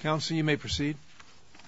Counsel, you may proceed.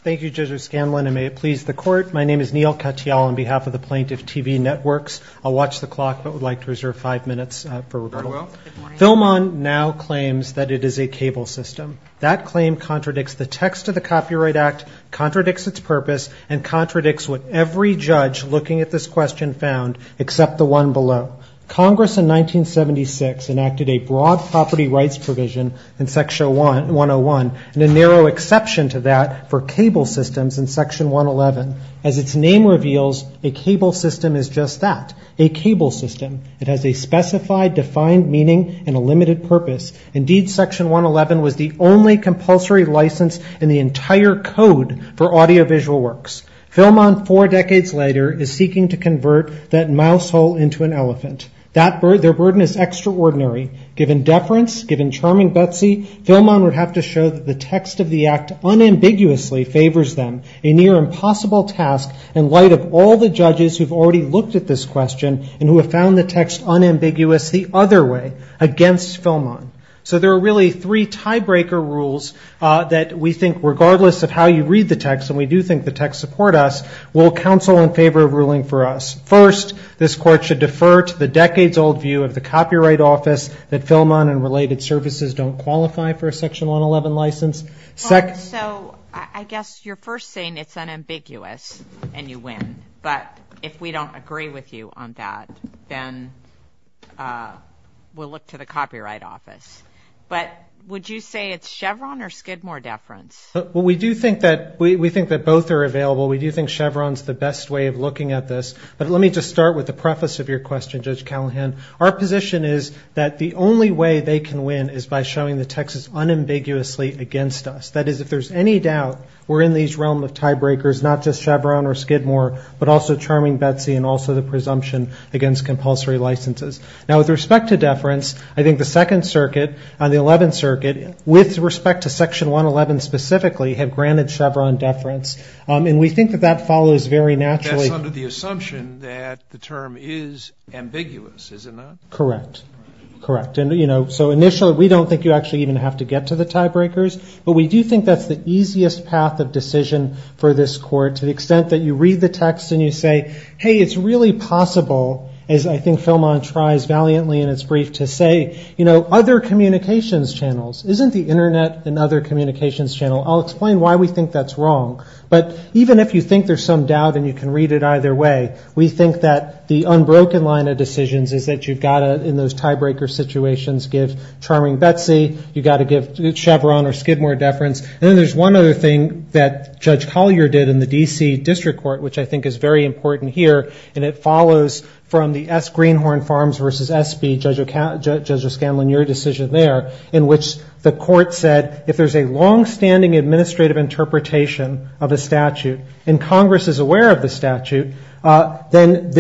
Thank you, Judge O'Scanlan, and may it please the Court. My name is Neil Katyal on behalf of the Plaintiff TV Networks. I'll watch the clock, but would like to reserve five minutes for rebuttal. Very well. FilmOn now claims that it is a cable system. That claim contradicts the text of the Copyright Act, contradicts its purpose, and contradicts what every judge looking at this question found except the one below. Congress in 1976 enacted a broad property rights provision in Section 101 and a narrow exception to that for cable systems in Section 111. As its name reveals, a cable system is just that, a cable system. It has a specified, defined meaning and a limited purpose. Indeed, Section 111 was the only compulsory license in the entire code for audiovisual works. FilmOn, four decades later, is seeking to convert that mouse hole into an elephant. Their burden is extraordinary. Given deference, given charming Betsy, FilmOn would have to show that the text of the Act unambiguously favors them, a near-impossible task in light of all the judges who have already looked at this question and who have found the text unambiguous the other way, against FilmOn. So there are really three tiebreaker rules that we think, regardless of how you read the text, and we do think the text support us, will counsel in favor of ruling for us. First, this Court should defer to the decades-old view of the Copyright Office that FilmOn and related services don't qualify for a Section 111 license. So I guess you're first saying it's unambiguous and you win. But if we don't agree with you on that, then we'll look to the Copyright Office. But would you say it's Chevron or Skidmore deference? Well, we do think that both are available. We do think Chevron's the best way of looking at this. But let me just start with the preface of your question, Judge Callahan. Our position is that the only way they can win is by showing the text is unambiguously against us. That is, if there's any doubt, we're in the realm of tiebreakers, not just Chevron or Skidmore, but also charming Betsy and also the presumption against compulsory licenses. Now, with respect to deference, I think the Second Circuit and the Eleventh Circuit, with respect to Section 111 specifically, have granted Chevron deference. And we think that that follows very naturally. That's under the assumption that the term is ambiguous, is it not? Correct. Correct. And, you know, so initially we don't think you actually even have to get to the tiebreakers. But we do think that's the easiest path of decision for this Court to the extent that you read the text and you say, hey, it's really possible, as I think FilmOn tries valiantly in its brief to say, you know, other communications channels. Isn't the Internet another communications channel? I'll explain why we think that's wrong. But even if you think there's some doubt and you can read it either way, we think that the unbroken line of decisions is that you've got to, in those tiebreaker situations, give charming Betsy, you've got to give Chevron or Skidmore deference. And then there's one other thing that Judge Collier did in the D.C. District Court, which I think is very important here, and it follows from the S. Greenhorn Farms v. S.B. Judge O'Scanlon, your decision there, in which the Court said if there's a longstanding administrative interpretation of a statute and Congress is aware of the statute, then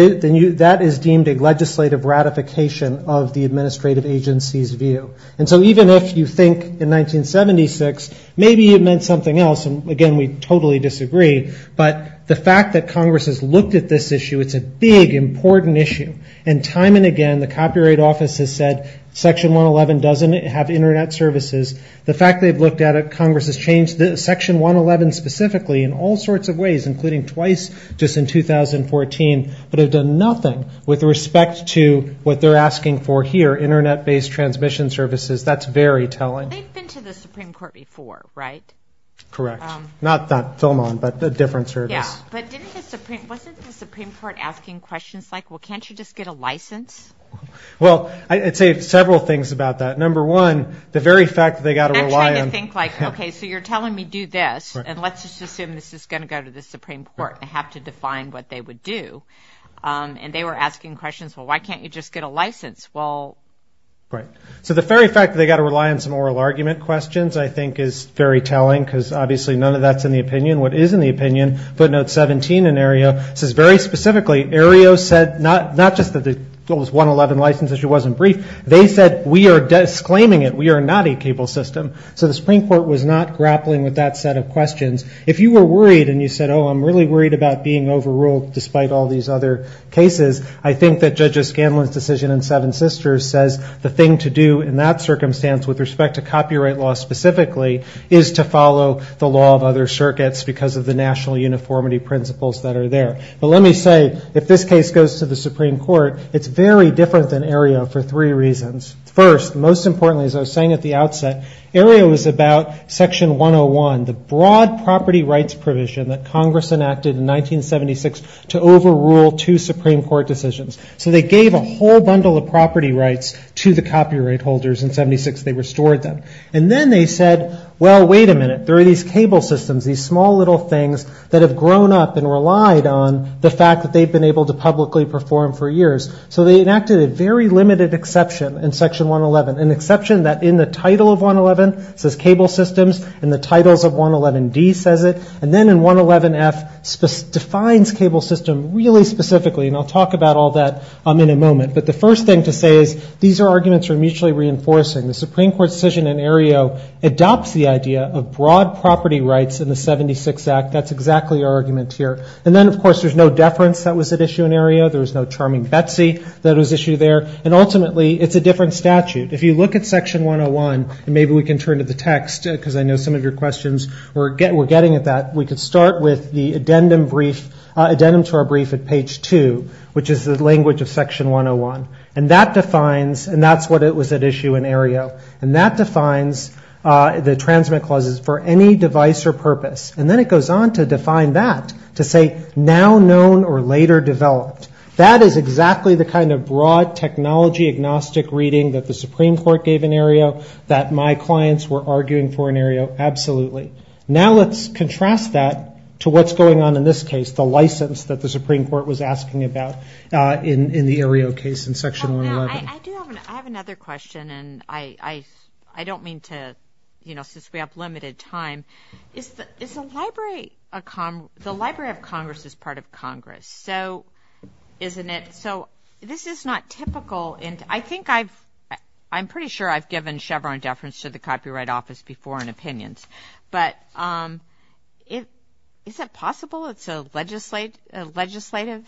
that is deemed a legislative ratification of the administrative agency's view. And so even if you think in 1976 maybe it meant something else, and, again, we totally disagree, but the fact that Congress has looked at this issue, it's a big, important issue. And time and again the Copyright Office has said Section 111 doesn't have Internet services. The fact they've looked at it, Congress has changed Section 111 specifically in all sorts of ways, including twice just in 2014, but have done nothing with respect to what they're asking for here, Internet-based transmission services. That's very telling. They've been to the Supreme Court before, right? Correct. Not Philmon, but a different service. Yeah. But wasn't the Supreme Court asking questions like, well, can't you just get a license? Well, I'd say several things about that. Number one, the very fact that they've got to rely on... I'm trying to think, like, okay, so you're telling me do this, and let's just assume this is going to go to the Supreme Court and have to define what they would do. And they were asking questions, well, why can't you just get a license? Well... Right. So the very fact that they've got to rely on some oral argument questions I think is very telling because obviously none of that's in the opinion. What is in the opinion, footnote 17 in Aereo, says very specifically, Aereo said not just that the 111 license issue wasn't brief, they said we are disclaiming it, we are not a cable system. So the Supreme Court was not grappling with that set of questions. If you were worried and you said, oh, I'm really worried about being overruled despite all these other cases, I think that Judge O'Scanlan's decision in Seven Sisters says the thing to do in that circumstance with respect to copyright law specifically is to follow the law of other circuits because of the national uniformity principles that are there. But let me say, if this case goes to the Supreme Court, it's very different than Aereo for three reasons. First, most importantly, as I was saying at the outset, Aereo is about Section 101, the broad property rights provision that Congress enacted in 1976 to overrule two Supreme Court decisions. So they gave a whole bundle of property rights to the copyright holders in 1976. They restored them. And then they said, well, wait a minute, there are these cable systems, these small little things that have grown up and relied on the fact that they've been able to publicly perform for years. So they enacted a very limited exception in Section 111, an exception that in the title of 111 says cable systems, in the titles of 111D says it, and then in 111F defines cable system really specifically, and I'll talk about all that in a moment. But the first thing to say is these are arguments for mutually reinforcing. The Supreme Court decision in Aereo adopts the idea of broad property rights in the 76th Act. That's exactly our argument here. And then, of course, there's no deference that was at issue in Aereo. There was no charming Betsy that was issued there. And ultimately, it's a different statute. If you look at Section 101, and maybe we can turn to the text because I know some of your questions were getting at that, we could start with the addendum brief, addendum to our brief at page 2, which is the language of Section 101. And that defines, and that's what it was at issue in Aereo, and that defines the transmit clauses for any device or purpose. And then it goes on to define that, to say now known or later developed. That is exactly the kind of broad technology agnostic reading that the Supreme Court gave in Aereo, that my clients were arguing for in Aereo, absolutely. Now let's contrast that to what's going on in this case, the license that the Supreme Court was asking about in the Aereo case in Section 111. Now, I do have another question, and I don't mean to, you know, since we have limited time. Is the Library of Congress part of Congress? So isn't it? So this is not typical. And I think I've, I'm pretty sure I've given Chevron deference to the Copyright Office before in opinions. But is it possible it's a legislative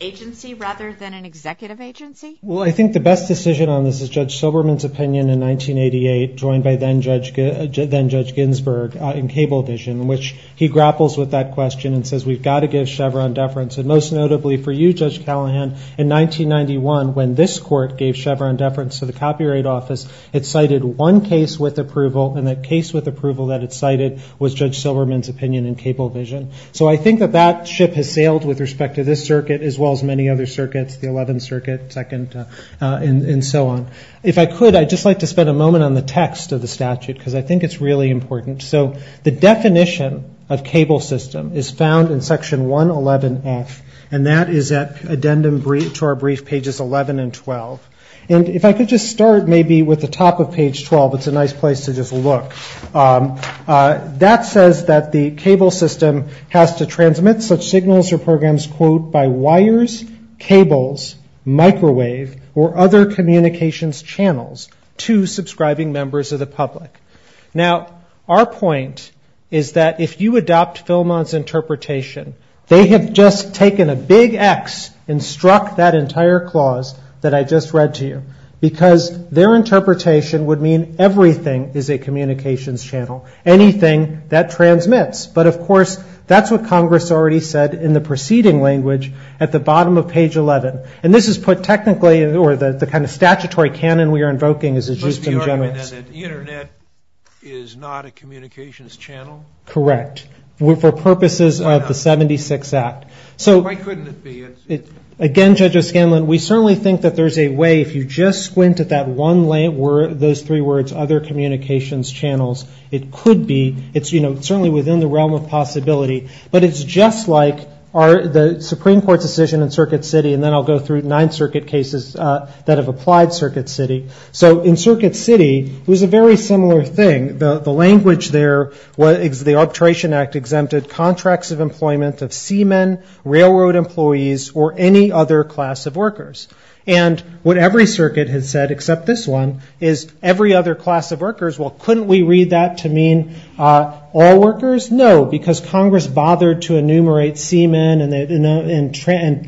agency rather than an executive agency? Well, I think the best decision on this is Judge Silberman's opinion in 1988, joined by then-Judge Ginsburg in Cablevision, in which he grapples with that question and says we've got to give Chevron deference. And most notably for you, Judge Callahan, in 1991, when this court gave Chevron deference to the Copyright Office, it cited one case with approval, and that case with approval that it cited was Judge Silberman's opinion in Cablevision. So I think that that ship has sailed with respect to this circuit, as well as many other circuits, the Eleventh Circuit, Second, and so on. If I could, I'd just like to spend a moment on the text of the statute, because I think it's really important. So the definition of cable system is found in Section 111F, and that is at addendum to our brief, pages 11 and 12. And if I could just start maybe with the top of page 12, it's a nice place to just look. That says that the cable system has to transmit such signals or programs, quote, by wires, cables, microwave, or other communications channels to subscribing members of the public. Now, our point is that if you adopt Philmon's interpretation, they have just taken a big X and struck that entire clause that I just read to you, because their interpretation would mean everything is a communications channel, anything that transmits. But, of course, that's what Congress already said in the preceding language at the bottom of page 11. And this is put technically, or the kind of statutory canon we are invoking, is that the Internet is not a communications channel? Correct. For purposes of the 76 Act. Why couldn't it be? Again, Judge O'Scanlan, we certainly think that there's a way, if you just squint at that one word, those three words, other communications channels, it could be, it's certainly within the realm of possibility, but it's just like the Supreme Court's decision in Circuit City, and then I'll go through nine circuit cases that have applied Circuit City. So in Circuit City, it was a very similar thing. The language there, the Arbitration Act exempted contracts of employment of seamen, railroad employees, or any other class of workers. And what every circuit has said, except this one, is every other class of workers. Well, couldn't we read that to mean all workers? No, because Congress bothered to enumerate seamen and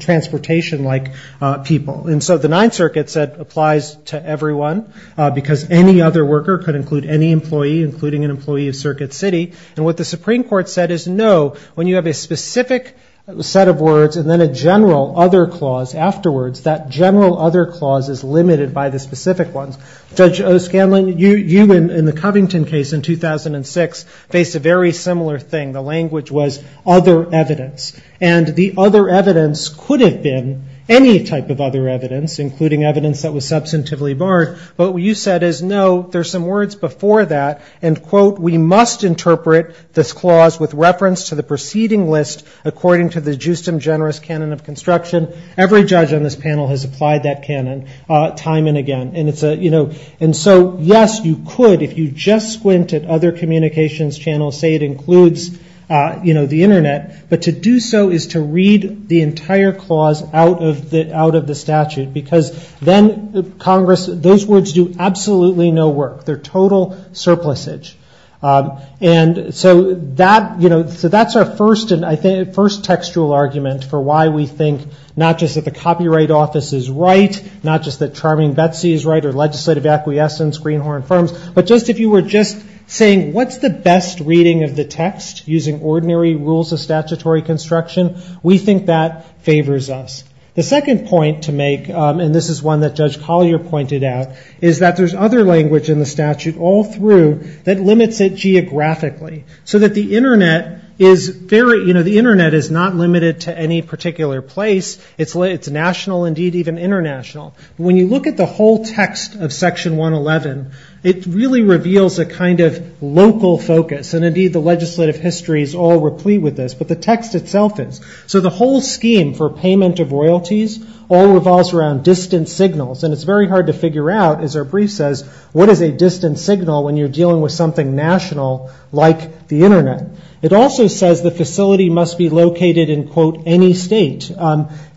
transportation-like people. And so the Ninth Circuit said applies to everyone, because any other worker could include any employee, including an employee of Circuit City. And what the Supreme Court said is no, when you have a specific set of words, and then a general other clause afterwards, that general other clause is limited by the specific ones. Judge O'Scanlan, you, in the Covington case in 2006, faced a very similar thing. The language was other evidence. And the other evidence could have been any type of other evidence, including evidence that was substantively barred. But what you said is no, there's some words before that, and, quote, we must interpret this clause with reference to the preceding list, according to the justum generis canon of construction. Every judge on this panel has applied that canon time and again. And so, yes, you could, if you just squint at other communications channels, say it includes the Internet. But to do so is to read the entire clause out of the statute, because then those words do absolutely no work. They're total surplusage. And so that's our first textual argument for why we think not just that the Copyright Office is right, not just that Charming Betsy is right, or legislative acquiescence, Greenhorn Firms, but just if you were just saying what's the best reading of the text, using ordinary rules of statutory construction, we think that favors us. The second point to make, and this is one that Judge Collier pointed out, is that there's other language in the statute all through that limits it geographically, so that the Internet is very, you know, the Internet is not limited to any particular place. It's national, indeed, even international. When you look at the whole text of Section 111, it really reveals a kind of local focus, and indeed the legislative history is all replete with this, but the text itself is. So the whole scheme for payment of royalties all revolves around distant signals, and it's very hard to figure out, as our brief says, what is a distant signal when you're dealing with something national like the Internet. It also says the facility must be located in, quote, any state.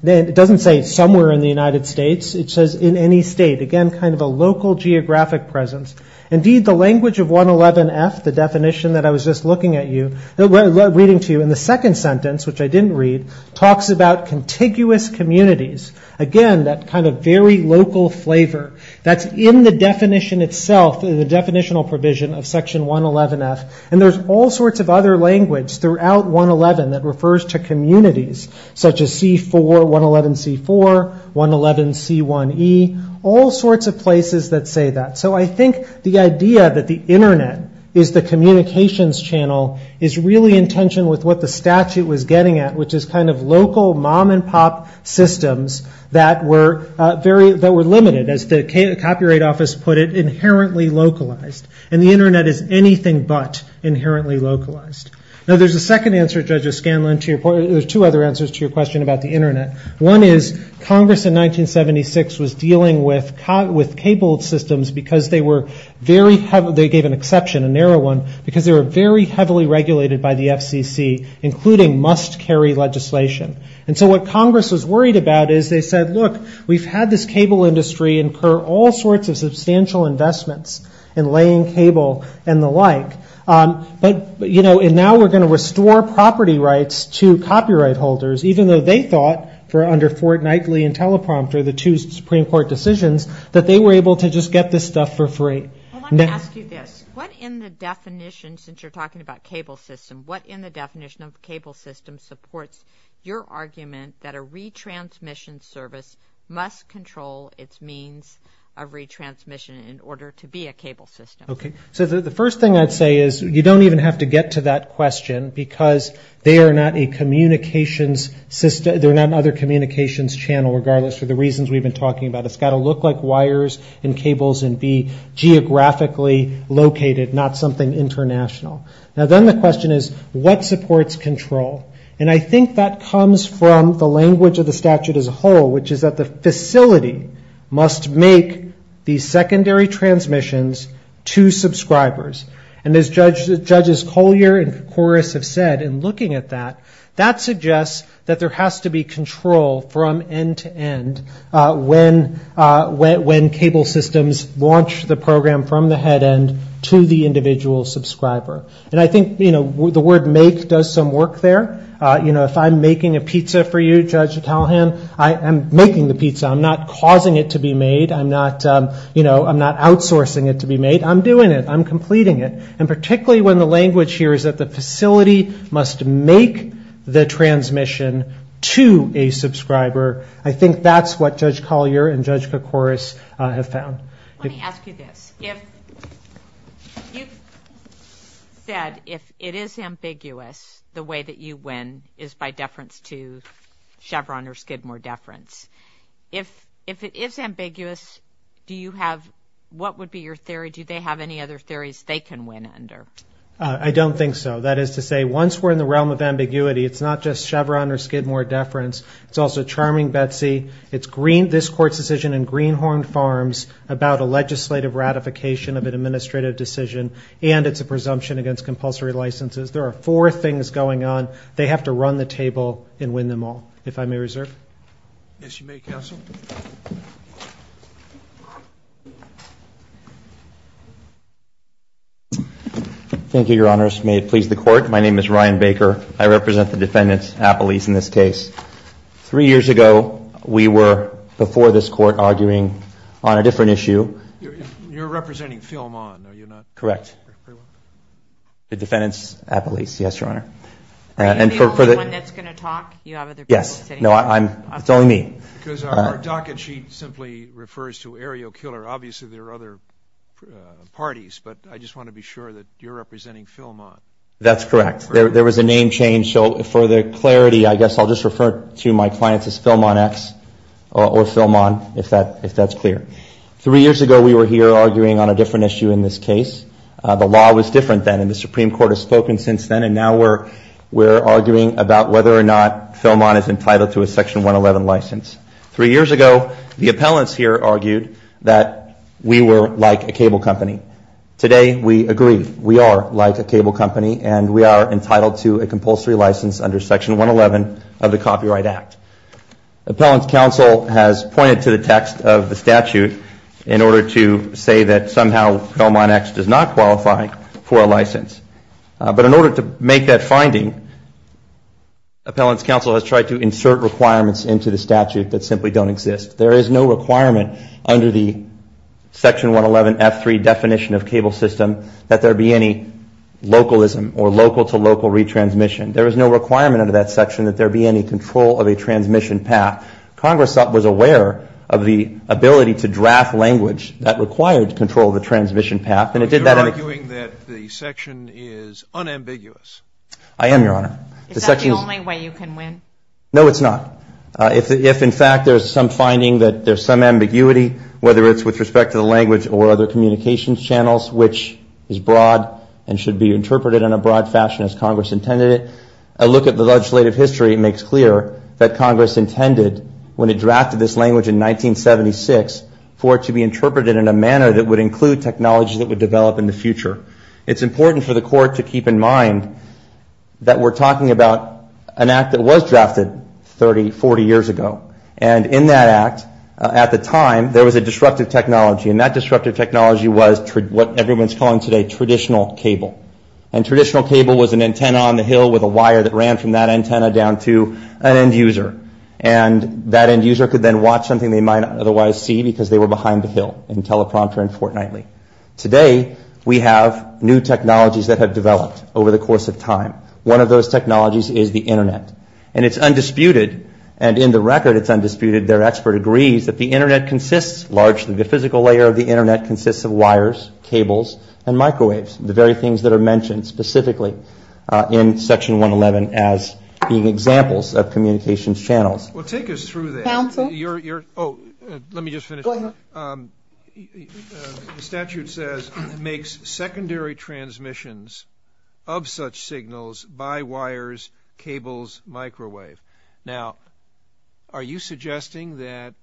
It doesn't say somewhere in the United States. It says in any state, again, kind of a local geographic presence. Indeed, the language of 111F, the definition that I was just looking at you, reading to you, in the second sentence, which I didn't read, talks about contiguous communities. Again, that kind of very local flavor that's in the definition itself, the definitional provision of Section 111F, and there's all sorts of other language throughout 111 that refers to communities, such as C4, 111C4, 111C1E, all sorts of places that say that. So I think the idea that the Internet is the communications channel is really in tension with what the statute was getting at, which is kind of local mom-and-pop systems that were limited, as the Copyright Office put it, inherently localized, and the Internet is anything but inherently localized. Now, there's a second answer, Judge O'Scanlan, to your point. There's two other answers to your question about the Internet. One is Congress in 1976 was dealing with cabled systems because they were very heavily, they gave an exception, a narrow one, because they were very heavily regulated by the FCC, including must-carry legislation. And so what Congress was worried about is they said, look, we've had this cable industry and we incur all sorts of substantial investments in laying cable and the like. But, you know, and now we're going to restore property rights to copyright holders, even though they thought, under Fort Knightley and Teleprompter, the two Supreme Court decisions, that they were able to just get this stuff for free. I want to ask you this. What in the definition, since you're talking about cable system, what in the definition of cable system supports your argument that a retransmission service must control its means of retransmission in order to be a cable system? Okay. So the first thing I'd say is you don't even have to get to that question because they are not a communications system, they're not another communications channel, regardless of the reasons we've been talking about. It's got to look like wires and cables and be geographically located, not something international. Now, then the question is, what supports control? And I think that comes from the language of the statute as a whole, which is that the facility must make the secondary transmissions to subscribers. And as Judges Collier and Koukouris have said in looking at that, that suggests that there has to be control from end to end when cable systems launch the program from the head end to the individual subscriber. And I think, you know, the word make does some work there. You know, if I'm making a pizza for you, Judge Callahan, I am making the pizza. I'm not causing it to be made. I'm not, you know, I'm not outsourcing it to be made. I'm doing it. I'm completing it. And particularly when the language here is that the facility must make the transmission to a subscriber, I think that's what Judge Collier and Judge Koukouris have found. Let me ask you this. You've said if it is ambiguous, the way that you win is by deference to Chevron or Skidmore deference. If it is ambiguous, do you have, what would be your theory? Do they have any other theories they can win under? I don't think so. That is to say, once we're in the realm of ambiguity, it's not just Chevron or Skidmore deference. It's also Charming Betsy. It's this Court's decision in Greenhorn Farms about a legislative ratification of an administrative decision, and it's a presumption against compulsory licenses. There are four things going on. They have to run the table and win them all. If I may reserve. Yes, you may, Counsel. Thank you, Your Honors. May it please the Court. My name is Ryan Baker. I represent the defendants, appellees in this case. Three years ago, we were, before this Court, arguing on a different issue. You're representing Philmon, are you not? Correct. The defendants, appellees, yes, Your Honor. Are you the only one that's going to talk? Yes. No, it's only me. Because our docket sheet simply refers to Ariel Killer. Obviously, there are other parties, but I just want to be sure that you're representing Philmon. That's correct. There was a name change. For the clarity, I guess I'll just refer to my clients as Philmon X or Philmon, if that's clear. Three years ago, we were here arguing on a different issue in this case. The law was different then, and the Supreme Court has spoken since then, and now we're arguing about whether or not Philmon is entitled to a Section 111 license. Three years ago, the appellants here argued that we were like a cable company. Today, we agree. We are like a cable company, and we are entitled to a compulsory license under Section 111 of the Copyright Act. Appellant's counsel has pointed to the text of the statute in order to say that somehow Philmon X does not qualify for a license. But in order to make that finding, appellant's counsel has tried to insert requirements into the statute that simply don't exist. There is no requirement under the Section 111F3 definition of cable system that there be any localism or local-to-local retransmission. There is no requirement under that section that there be any control of a transmission path. Congress was aware of the ability to draft language that required control of the transmission path, and it did that. You're arguing that the section is unambiguous. I am, Your Honor. Is that the only way you can win? No, it's not. If, in fact, there's some finding that there's some ambiguity, whether it's with respect to the language or other communications channels, which is broad and should be interpreted in a broad fashion as Congress intended it, a look at the legislative history makes clear that Congress intended, when it drafted this language in 1976, for it to be interpreted in a manner that would include technology that would develop in the future. It's important for the Court to keep in mind that we're talking about an act that was drafted 30, 40 years ago. And in that act, at the time, there was a disruptive technology, and that disruptive technology was what everyone's calling today traditional cable. And traditional cable was an antenna on the hill with a wire that ran from that antenna down to an end user. And that end user could then watch something they might not otherwise see because they were behind the hill, in teleprompter and fortnightly. Today, we have new technologies that have developed over the course of time. One of those technologies is the Internet. And it's undisputed, and in the record it's undisputed, their expert agrees that the Internet consists largely, the physical layer of the Internet consists of wires, cables and microwaves, the very things that are mentioned specifically in Section 111 as being examples of communications channels. Well, take us through that. Counsel? Oh, let me just finish. Go ahead. The statute says it makes secondary transmissions of such signals by wires, cables, microwave. Now, are you suggesting that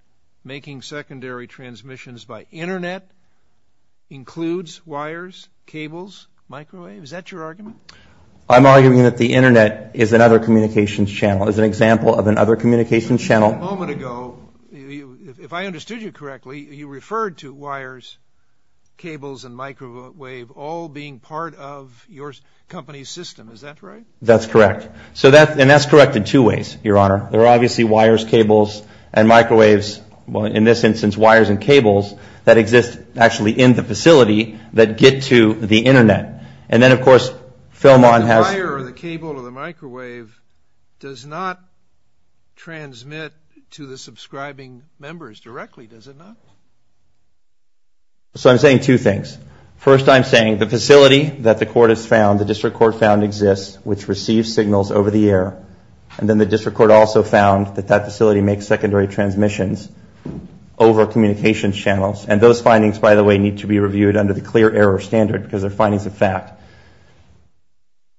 making secondary transmissions by Internet includes wires, cables, microwave? Is that your argument? I'm arguing that the Internet is another communications channel, is an example of another communications channel. A moment ago, if I understood you correctly, you referred to wires, cables and microwave all being part of your company's system. Is that right? That's correct. And that's correct in two ways, Your Honor. There are obviously wires, cables and microwaves, in this instance wires and cables, that exist actually in the facility that get to the Internet. And then, of course, Philmon has... The wire or the cable or the microwave does not transmit to the subscribing members directly, does it not? So I'm saying two things. First, I'm saying the facility that the court has found, the district court found exists, which receives signals over the air, and then the district court also found that that facility makes secondary transmissions over communications channels. And those findings, by the way, need to be reviewed under the clear error standard, because they're findings of fact.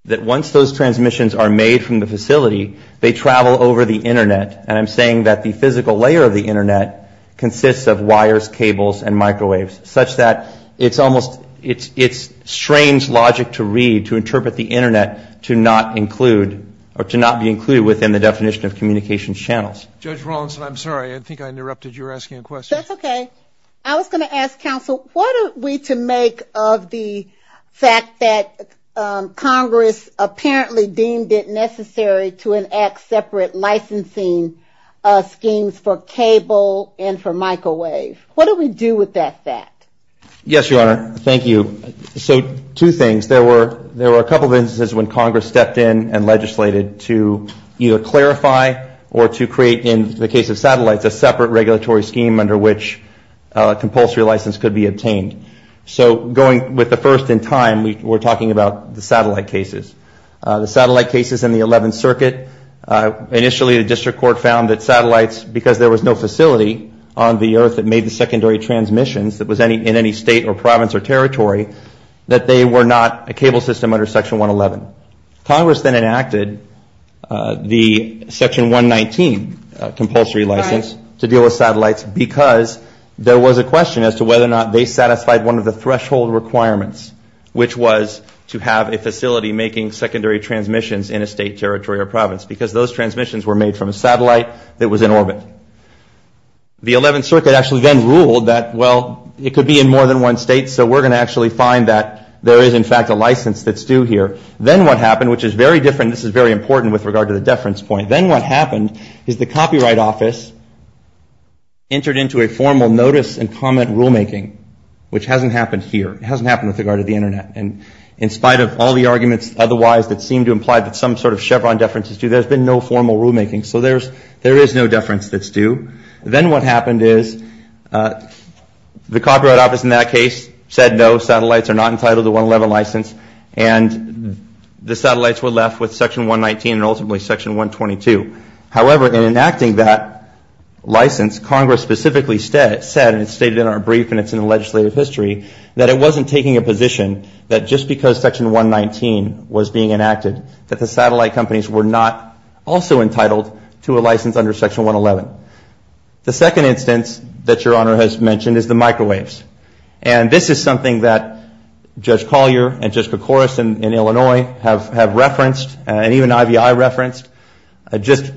That once those transmissions are made from the facility, they travel over the Internet, and I'm saying that the physical layer of the Internet consists of wires, cables and microwaves, such that it's strange logic to read, to interpret the Internet to not be included within the definition of communications channels. Judge Rawlinson, I'm sorry. I think I interrupted. You were asking a question. That's okay. I was going to ask counsel, what are we to make of the fact that Congress apparently deemed it necessary to enact separate licensing schemes for cable and for microwave? What do we do with that fact? Yes, Your Honor. Thank you. So two things. There were a couple of instances when Congress stepped in and legislated to either clarify or to create, in the case of satellites, a separate regulatory scheme under which compulsory license could be obtained. So going with the first in time, we're talking about the satellite cases. The satellite cases in the 11th Circuit, initially the district court found that satellites, because there was no facility on the Earth that made the secondary transmissions that was in any state or province or territory, that they were not a cable system under Section 111. Congress then enacted the Section 119 compulsory license to deal with satellites, because there was a question as to whether or not they satisfied one of the threshold requirements, which was to have a facility making secondary transmissions in a state, territory, or province, because those transmissions were made from a satellite that was in orbit. The 11th Circuit actually then ruled that, well, it could be in more than one state, so we're going to actually find that there is, in fact, a license that's due here. Then what happened, which is very different, this is very important with regard to the deference point, then what happened is the Copyright Office entered into a formal notice and comment rulemaking, which hasn't happened here. It hasn't happened with regard to the Internet, and in spite of all the arguments otherwise that seem to imply that some sort of Chevron deference is due, there's been no formal rulemaking, so there is no deference that's due. Then what happened is the Copyright Office in that case said no, the satellites are not entitled to 111 license, and the satellites were left with Section 119 and ultimately Section 122. However, in enacting that license, Congress specifically said, and it's stated in our brief and it's in the legislative history, that it wasn't taking a position that just because Section 119 was being enacted that the satellite companies were not also entitled to a license under Section 111. The second instance that Your Honor has mentioned is the microwaves, and this is something that Judge Collier and Judge Koukouris in Illinois have referenced and even IVI referenced just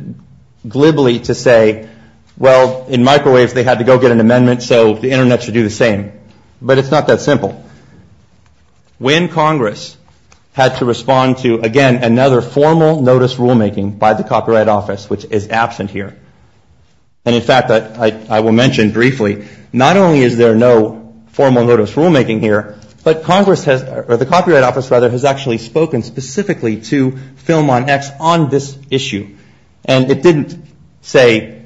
glibly to say, well, in microwaves they had to go get an amendment, so the Internet should do the same. But it's not that simple. When Congress had to respond to, again, another formal notice rulemaking by the Copyright Office, which is absent here, and in fact I will mention briefly, not only is there no formal notice rulemaking here, but Congress has, or the Copyright Office, rather, has actually spoken specifically to Film On X on this issue. And it didn't say,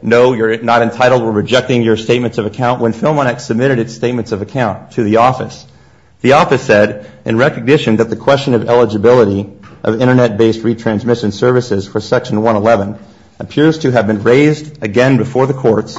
no, you're not entitled, we're rejecting your statements of account, when Film On X submitted its statements of account to the office. The office said, in recognition that the question of eligibility of Internet-based retransmission services for Section 111 appears to have been raised again before the courts,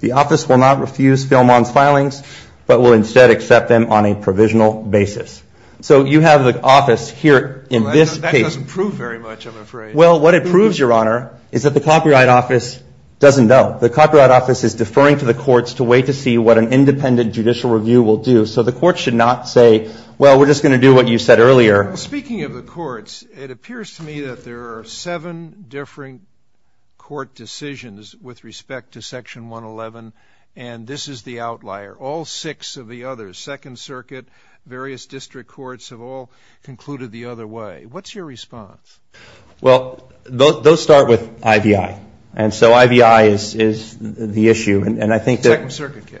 the office will not refuse Film On's filings, but will instead accept them on a provisional basis. So you have the office here in this case. That doesn't prove very much, I'm afraid. Well, what it proves, Your Honor, is that the Copyright Office doesn't know. The Copyright Office is deferring to the courts to wait to see what an independent judicial review will do. So the courts should not say, well, we're just going to do what you said earlier. Speaking of the courts, it appears to me that there are seven different court decisions with respect to Section 111, and this is the outlier. All six of the others, Second Circuit, various district courts, have all concluded the other way. What's your response? Well, those start with IVI. And so IVI is the issue, and I think that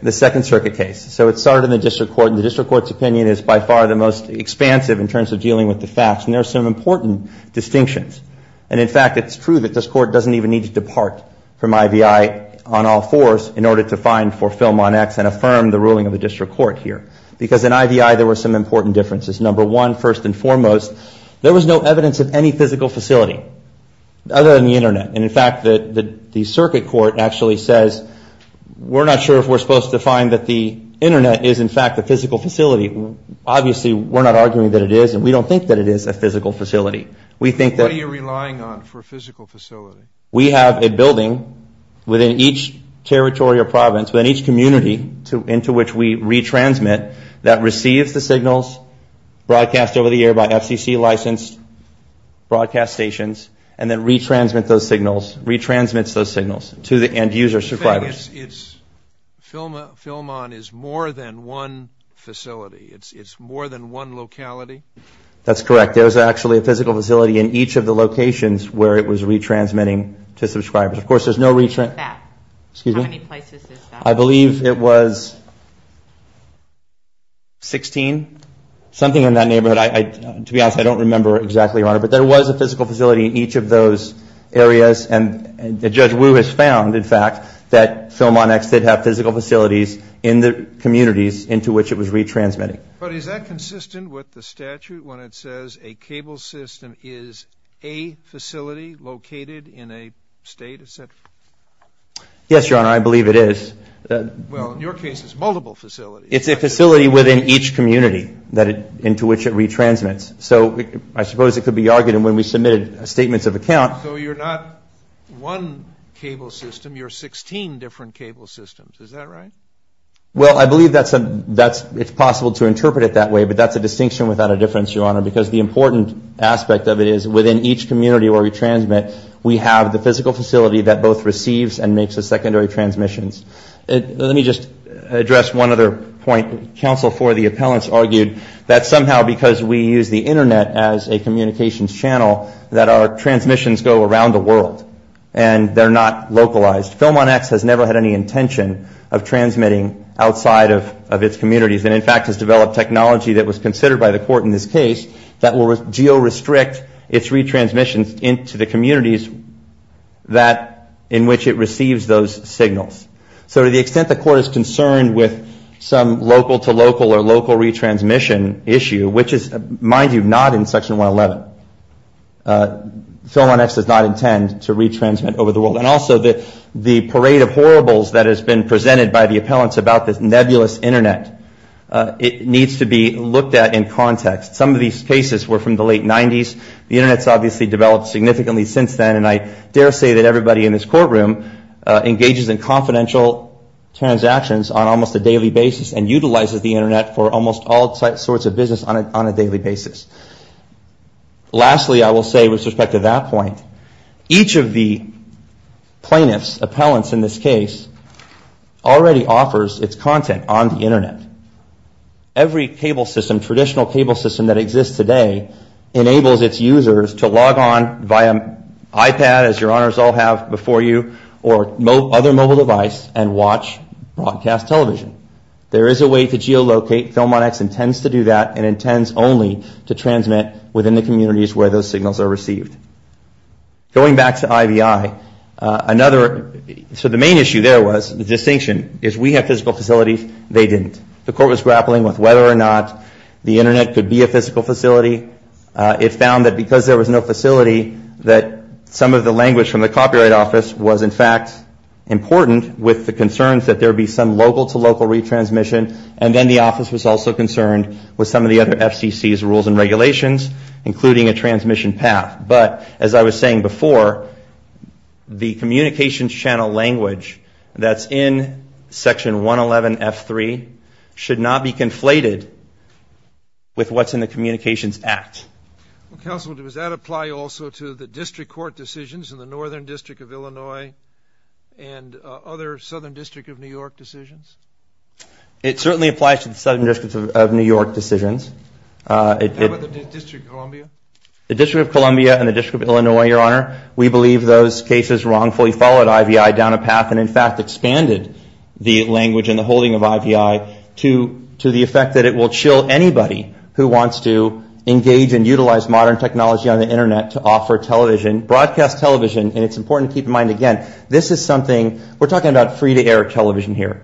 the Second Circuit case. So it started in the district court, and the district court's opinion is by far the most expansive in terms of dealing with the facts, and there are some important distinctions. And in fact, it's true that this court doesn't even need to depart from IVI on all fours in order to find for Film On X and affirm the ruling of the district court here. Because in IVI, there were some important differences. Number one, first and foremost, there was no evidence of any physical facility other than the internet. And in fact, the Circuit Court actually says, we're not sure if we're supposed to find that the internet is, in fact, a physical facility. Obviously, we're not arguing that it is, and we don't think that it is a physical facility. What are you relying on for a physical facility? We have a building within each territory or province, within each community, into which we retransmit that receives the signals broadcast over the air by FCC-licensed broadcast stations, and then retransmits those signals to the end-user subscribers. You're saying Film On is more than one facility? It's more than one locality? That's correct. There's actually a physical facility in each of the locations where it was retransmitting to subscribers. Of course, there's no... How many places is that? I believe it was 16, something in that neighborhood. To be honest, I don't remember exactly, Your Honor. But there was a physical facility in each of those areas, and Judge Wu has found, in fact, that Film On X did have physical facilities in the communities into which it was retransmitting. But is that consistent with the statute when it says a cable system is a facility located in a state, et cetera? Yes, Your Honor, I believe it is. Well, in your case, it's multiple facilities. It's a facility within each community into which it retransmits. So I suppose it could be argued, and when we submitted statements of account... So you're not one cable system. You're 16 different cable systems. Is that right? Well, I believe it's possible to interpret it that way, but that's a distinction without a difference, Your Honor, because the important aspect of it is within each community where we transmit, we have the physical facility that both receives and makes the secondary transmissions. Let me just address one other point. Counsel for the appellants argued that somehow because we use the internet as a communications channel that our transmissions go around the world, and they're not localized. Film On X has never had any intention of transmitting outside of its communities and, in fact, has developed technology that was considered by the court in this case that will geo-restrict its retransmissions into the communities in which it receives those signals. So to the extent the court is concerned with some local-to-local or local retransmission issue, which is, mind you, not in Section 111, Film On X does not intend to retransmit over the world. And also the parade of horribles that has been presented by the appellants about this nebulous internet, it needs to be looked at in context. Some of these cases were from the late 90s. The internet's obviously developed significantly since then, and I dare say that everybody in this courtroom engages in confidential transactions on almost a daily basis and utilizes the internet for almost all sorts of business on a daily basis. Lastly, I will say, with respect to that point, each of the plaintiffs, appellants in this case, already offers its content on the internet. Every cable system, traditional cable system that exists today, enables its users to log on via iPad, as your honors all have before you, or other mobile device and watch broadcast television. There is a way to geo-locate. Film On X intends to do that and intends only to transmit within the communities where those signals are received. Going back to IVI, another, so the main issue there was, the distinction, is we have physical facilities, they didn't. The court was grappling with whether or not the internet could be a physical facility. It found that because there was no facility, that some of the language from the copyright office was, in fact, important with the concerns that there would be some local-to-local retransmission, and then the office was also concerned with some of the other FCC's rules and regulations, including a transmission path. But, as I was saying before, the communications channel language that's in Section 111F3 should not be conflated with what's in the Communications Act. Counsel, does that apply also to the district court decisions in the Northern District of Illinois and other Southern District of New York decisions? It certainly applies to the Southern District of New York decisions. How about the District of Columbia? The District of Columbia and the District of Illinois, Your Honor, we believe those cases wrongfully followed IVI down a path and, in fact, expanded the language and the holding of IVI to the effect that it will chill anybody who wants to engage and utilize modern technology on the internet to offer television, broadcast television, and it's important to keep in mind, again, this is something, we're talking about free-to-air television here.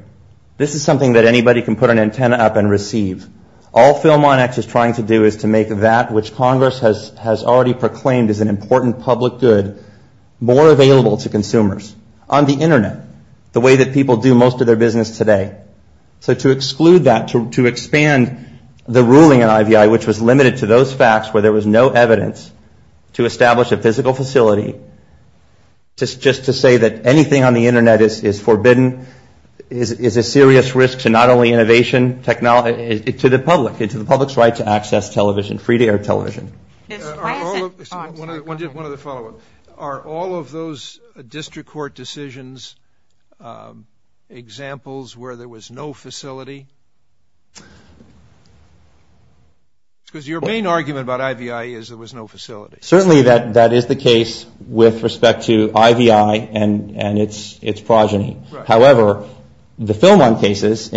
This is something that anybody can put an antenna up and receive. All Film On X is trying to do is to make that which Congress has already proclaimed as an important public good more available to consumers on the internet, the way that people do most of their business today. So to exclude that, to expand the ruling on IVI, which was limited to those facts where there was no evidence, to establish a physical facility, just to say that anything on the internet is forbidden is a serious risk to not only innovation, but to the public, to the public's right to access television, free-to-air television. One other follow-up. Are all of those district court decisions examples where there was no facility? Because your main argument about IVI is there was no facility. Certainly that is the case with respect to IVI and its progeny. However, the Film On cases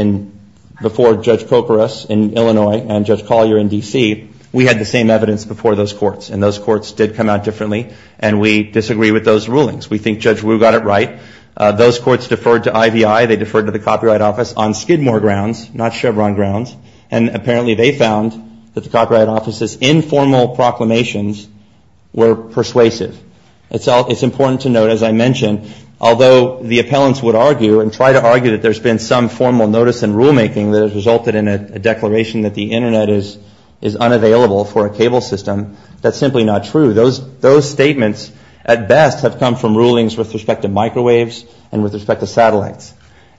before Judge Koukouras in Illinois and Judge Collier in D.C., we had the same evidence before those courts, and those courts did come out differently, and we disagree with those rulings. We think Judge Wu got it right. Those courts deferred to IVI. They deferred to the Copyright Office on Skidmore grounds, not Chevron grounds, and apparently they found that the Copyright Office's informal proclamations were persuasive. It's important to note, as I mentioned, although the appellants would argue and try to argue that there's been some formal notice in rulemaking that has resulted in a declaration that the internet is unavailable for a cable system, that's simply not true. Those statements at best have come from rulings with respect to microwaves and with respect to satellites.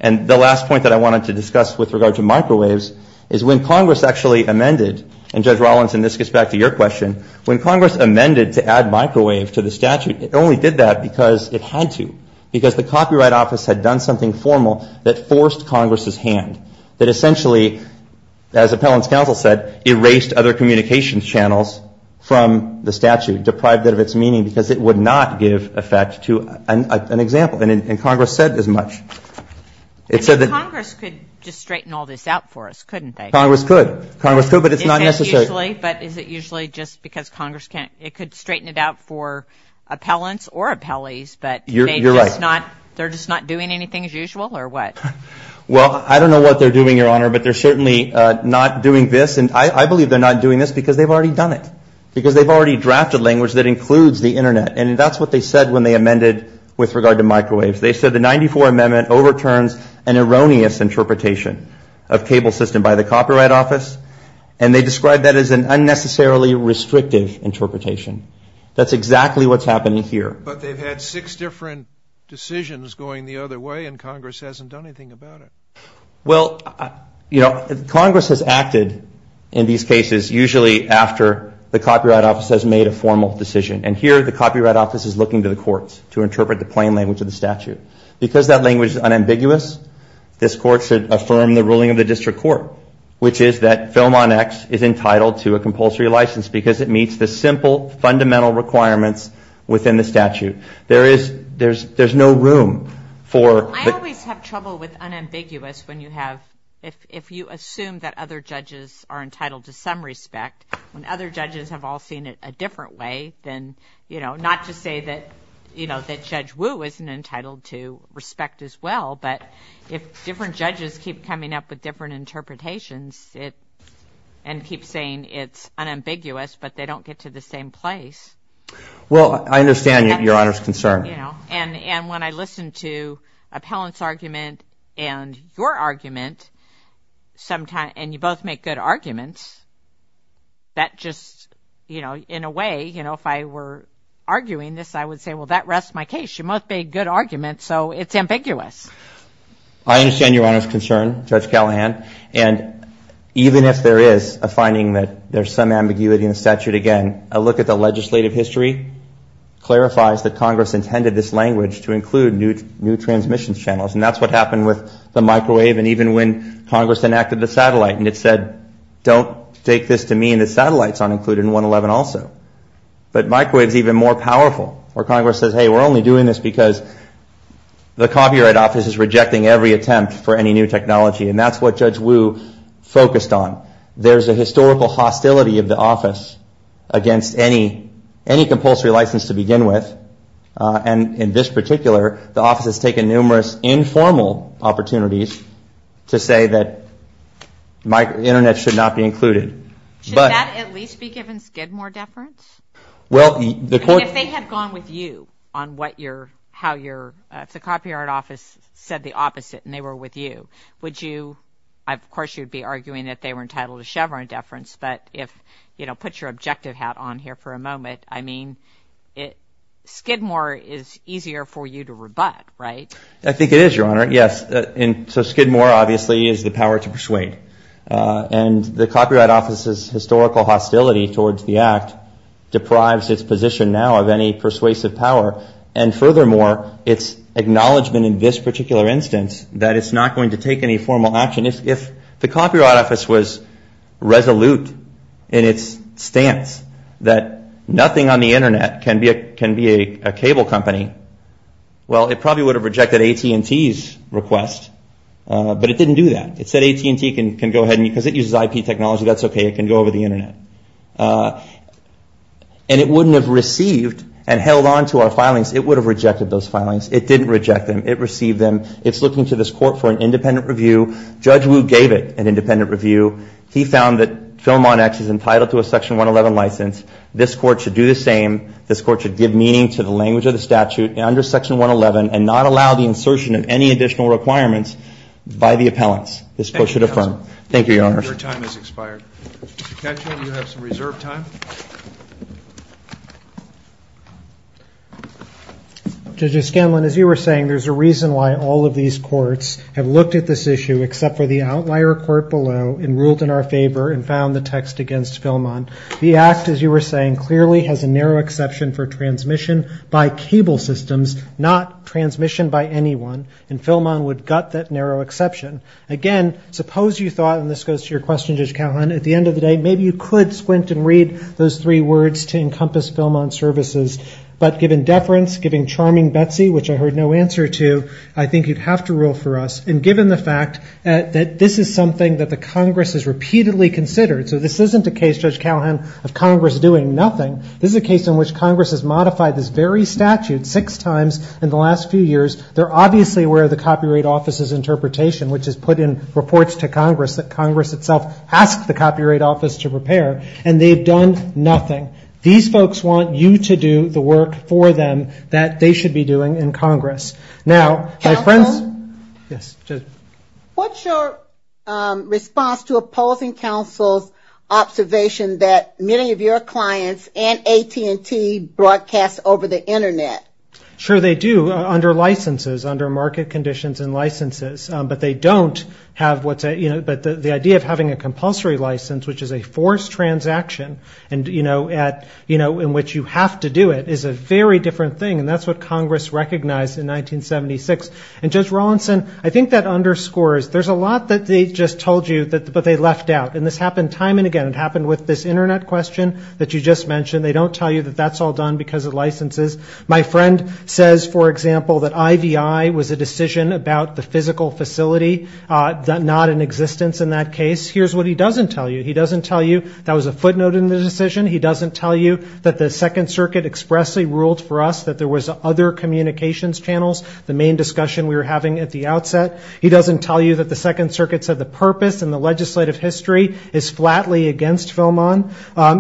And the last point that I wanted to discuss with regard to microwaves is when Congress actually amended, and Judge Rollins, and this gets back to your question, when Congress amended to add microwave to the statute, it only did that because it had to, because the Copyright Office had done something formal that forced Congress's hand, that essentially, as appellants' counsel said, erased other communications channels from the statute, deprived it of its meaning, because it would not give effect to an example, and Congress said as much. It said that — Congress could just straighten all this out for us, couldn't they? Congress could. Congress could, but it's not necessary. But is it usually just because Congress can't — it could straighten it out for appellants or appellees, but — You're right. They're just not doing anything as usual, or what? Well, I don't know what they're doing, Your Honor, but they're certainly not doing this. And I believe they're not doing this because they've already done it, because they've already drafted language that includes the internet. And that's what they said when they amended with regard to microwaves. They said the 94 Amendment overturns an erroneous interpretation of cable system by the Copyright Office, and they described that as an unnecessarily restrictive interpretation. That's exactly what's happening here. But they've had six different decisions going the other way, and Congress hasn't done anything about it. Well, you know, Congress has acted in these cases usually after the Copyright Office has made a formal decision. And here the Copyright Office is looking to the courts to interpret the plain language of the statute. Because that language is unambiguous, this Court should affirm the ruling of the District Court, which is that Film on X is entitled to a compulsory license because it meets the simple, fundamental requirements within the statute. There is — there's no room for — I always have trouble with unambiguous when you have — if you assume that other judges are entitled to some respect, when other judges have all seen it a different way than — you know, not to say that, you know, that Judge Wu isn't entitled to respect as well, but if different judges keep coming up with different interpretations and keep saying it's unambiguous, but they don't get to the same place — Well, I understand your Honor's concern. You know, and when I listen to Appellant's argument and your argument, and you both make good arguments, that just — you know, in a way, you know, if I were arguing this, I would say, well, that rests my case. You both made good arguments, so it's ambiguous. I understand your Honor's concern, Judge Callahan. And even if there is a finding that there's some ambiguity in the statute, again, a look at the legislative history clarifies that Congress intended this language to include new transmission channels. And that's what happened with the microwave, and even when Congress enacted the satellite, and it said, don't take this to mean that satellites aren't included in 111 also. But microwaves are even more powerful, where Congress says, hey, we're only doing this because the Copyright Office is rejecting every attempt for any new technology. And that's what Judge Wu focused on. There's a historical hostility of the office against any compulsory license to begin with. And in this particular, the office has taken numerous informal opportunities to say that the Internet should not be included. Should that at least be given Skidmore deference? Well, the court — I mean, if they had gone with you on what you're — how you're — if the Copyright Office said the opposite and they were with you, would you — of course, you'd be arguing that they were entitled to Chevron deference, but, I mean, Skidmore is easier for you to rebut, right? I think it is, Your Honor. Yes. And so Skidmore, obviously, is the power to persuade. And the Copyright Office's historical hostility towards the act deprives its position now of any persuasive power. And furthermore, its acknowledgment in this particular instance that it's not going to take any formal action. I mean, if the Copyright Office was resolute in its stance that nothing on the Internet can be a cable company, well, it probably would have rejected AT&T's request. But it didn't do that. It said AT&T can go ahead and — because it uses IP technology, that's okay. It can go over the Internet. And it wouldn't have received and held on to our filings. It would have rejected those filings. It didn't reject them. It received them. It's looking to this Court for an independent review. Judge Wu gave it an independent review. He found that Philmon X is entitled to a Section 111 license. This Court should do the same. This Court should give meaning to the language of the statute under Section 111 and not allow the insertion of any additional requirements by the appellants. This Court should affirm. Thank you, Your Honor. Your time has expired. Mr. Katyal, you have some reserved time. Judge O'Scanlan, as you were saying, there's a reason why all of these courts have looked at this issue except for the outlier court below and ruled in our favor and found the text against Philmon. The Act, as you were saying, clearly has a narrow exception for transmission by cable systems, not transmission by anyone. And Philmon would gut that narrow exception. Again, suppose you thought — and this goes to your question, Judge Katyal — at the end of the day, maybe you could squint and read those three words to encompass Philmon services. But given deference, given charming Betsy, which I heard no answer to, I think you'd have to rule for us. And given the fact that this is something that the Congress has repeatedly considered — so this isn't a case, Judge Callahan, of Congress doing nothing. This is a case in which Congress has modified this very statute six times in the last few years. They're obviously aware of the Copyright Office's interpretation, which has put in reports to Congress that Congress itself asked the Copyright Office to prepare, and they've done nothing. These folks want you to do the work for them that they should be doing in Congress. Now, my friends — Counsel? Yes, Judge. What's your response to opposing counsel's observation that many of your clients and AT&T broadcast over the Internet? Sure, they do, under licenses, under market conditions and licenses. But they don't have what's a — you know, but the idea of having a compulsory license, which is a forced transaction, and, you know, at — you know, in which you have to do it, is a very different thing. And that's what Congress recognized in 1976. And, Judge Rawlinson, I think that underscores — there's a lot that they just told you, but they left out. And this happened time and again. It happened with this Internet question that you just mentioned. They don't tell you that that's all done because of licenses. My friend says, for example, that IVI was a decision about the physical facility, not in existence in that case. Here's what he doesn't tell you. He doesn't tell you that was a footnote in the decision. He doesn't tell you that the Second Circuit expressly ruled for us that there was other communications channels, the main discussion we were having at the outset. He doesn't tell you that the Second Circuit said the purpose and the legislative history is flatly against Philmon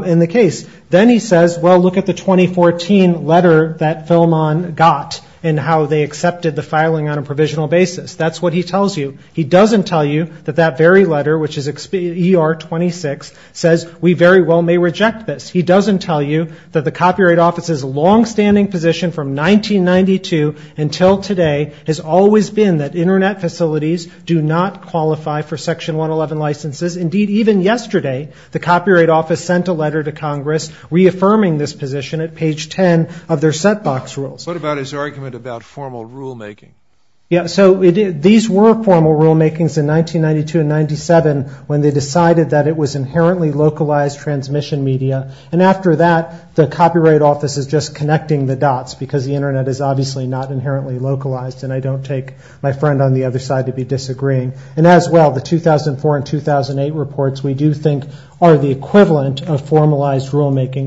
in the case. Then he says, well, look at the 2014 letter that Philmon got and how they accepted the filing on a provisional basis. That's what he tells you. He doesn't tell you that that very letter, which is ER 26, says we very well may reject this. He doesn't tell you that the Copyright Office's longstanding position from 1992 until today has always been that Internet facilities do not qualify for Section 111 licenses. Indeed, even yesterday the Copyright Office sent a letter to Congress reaffirming this position at page 10 of their set box rules. What about his argument about formal rulemaking? Yeah, so these were formal rulemakings in 1992 and 1997 when they decided that it was inherently localized transmission media. And after that, the Copyright Office is just connecting the dots because the Internet is obviously not inherently localized and I don't take my friend on the other side to be disagreeing. And as well, the 2004 and 2008 reports, we do think, are the equivalent of formalized rulemaking.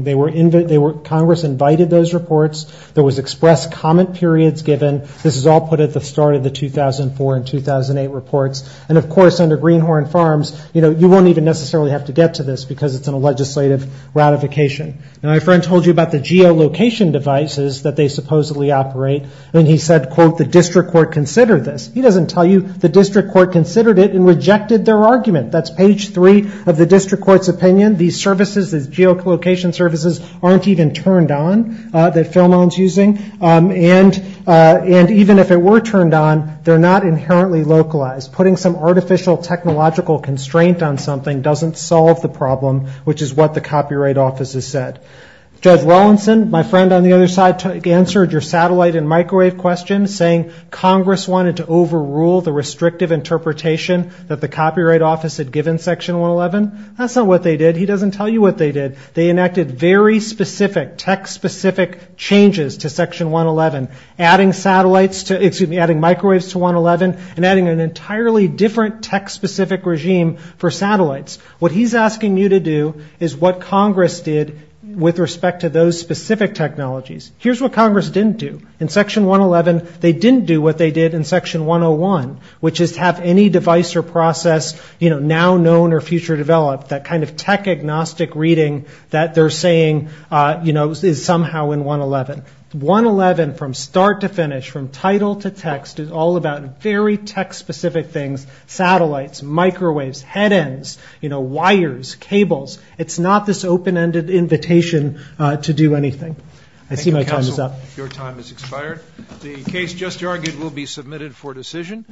Congress invited those reports. There was express comment periods given. This is all put at the start of the 2004 and 2008 reports. And, of course, under Greenhorn Farms, you know, you won't even necessarily have to get to this because it's in a legislative ratification. My friend told you about the geolocation devices that they supposedly operate and he said, quote, the district court considered this. He doesn't tell you the district court considered it and rejected their argument. That's page 3 of the district court's opinion. These services, these geolocation services, aren't even turned on, that Phil Moen is using. And even if they were turned on, they're not inherently localized. Putting some artificial technological constraint on something doesn't solve the problem, which is what the Copyright Office has said. Judge Rawlinson, my friend on the other side, answered your satellite and microwave question saying Congress wanted to overrule the restrictive interpretation that the Copyright Office had given Section 111. That's not what they did. He doesn't tell you what they did. They enacted very specific, tech-specific changes to Section 111, adding satellites to, excuse me, adding microwaves to 111 and adding an entirely different tech-specific regime for satellites. What he's asking you to do is what Congress did with respect to those specific technologies. Here's what Congress didn't do. In Section 111, they didn't do what they did in Section 101, which is have any device or process, you know, now known or future developed, that kind of tech-agnostic reading that they're saying, you know, is somehow in 111. 111, from start to finish, from title to text, is all about very tech-specific things. Satellites, microwaves, head ends, you know, wires, cables. It's not this open-ended invitation to do anything. I see my time is up. Thank you, counsel. Your time has expired. The case just argued will be submitted for decision.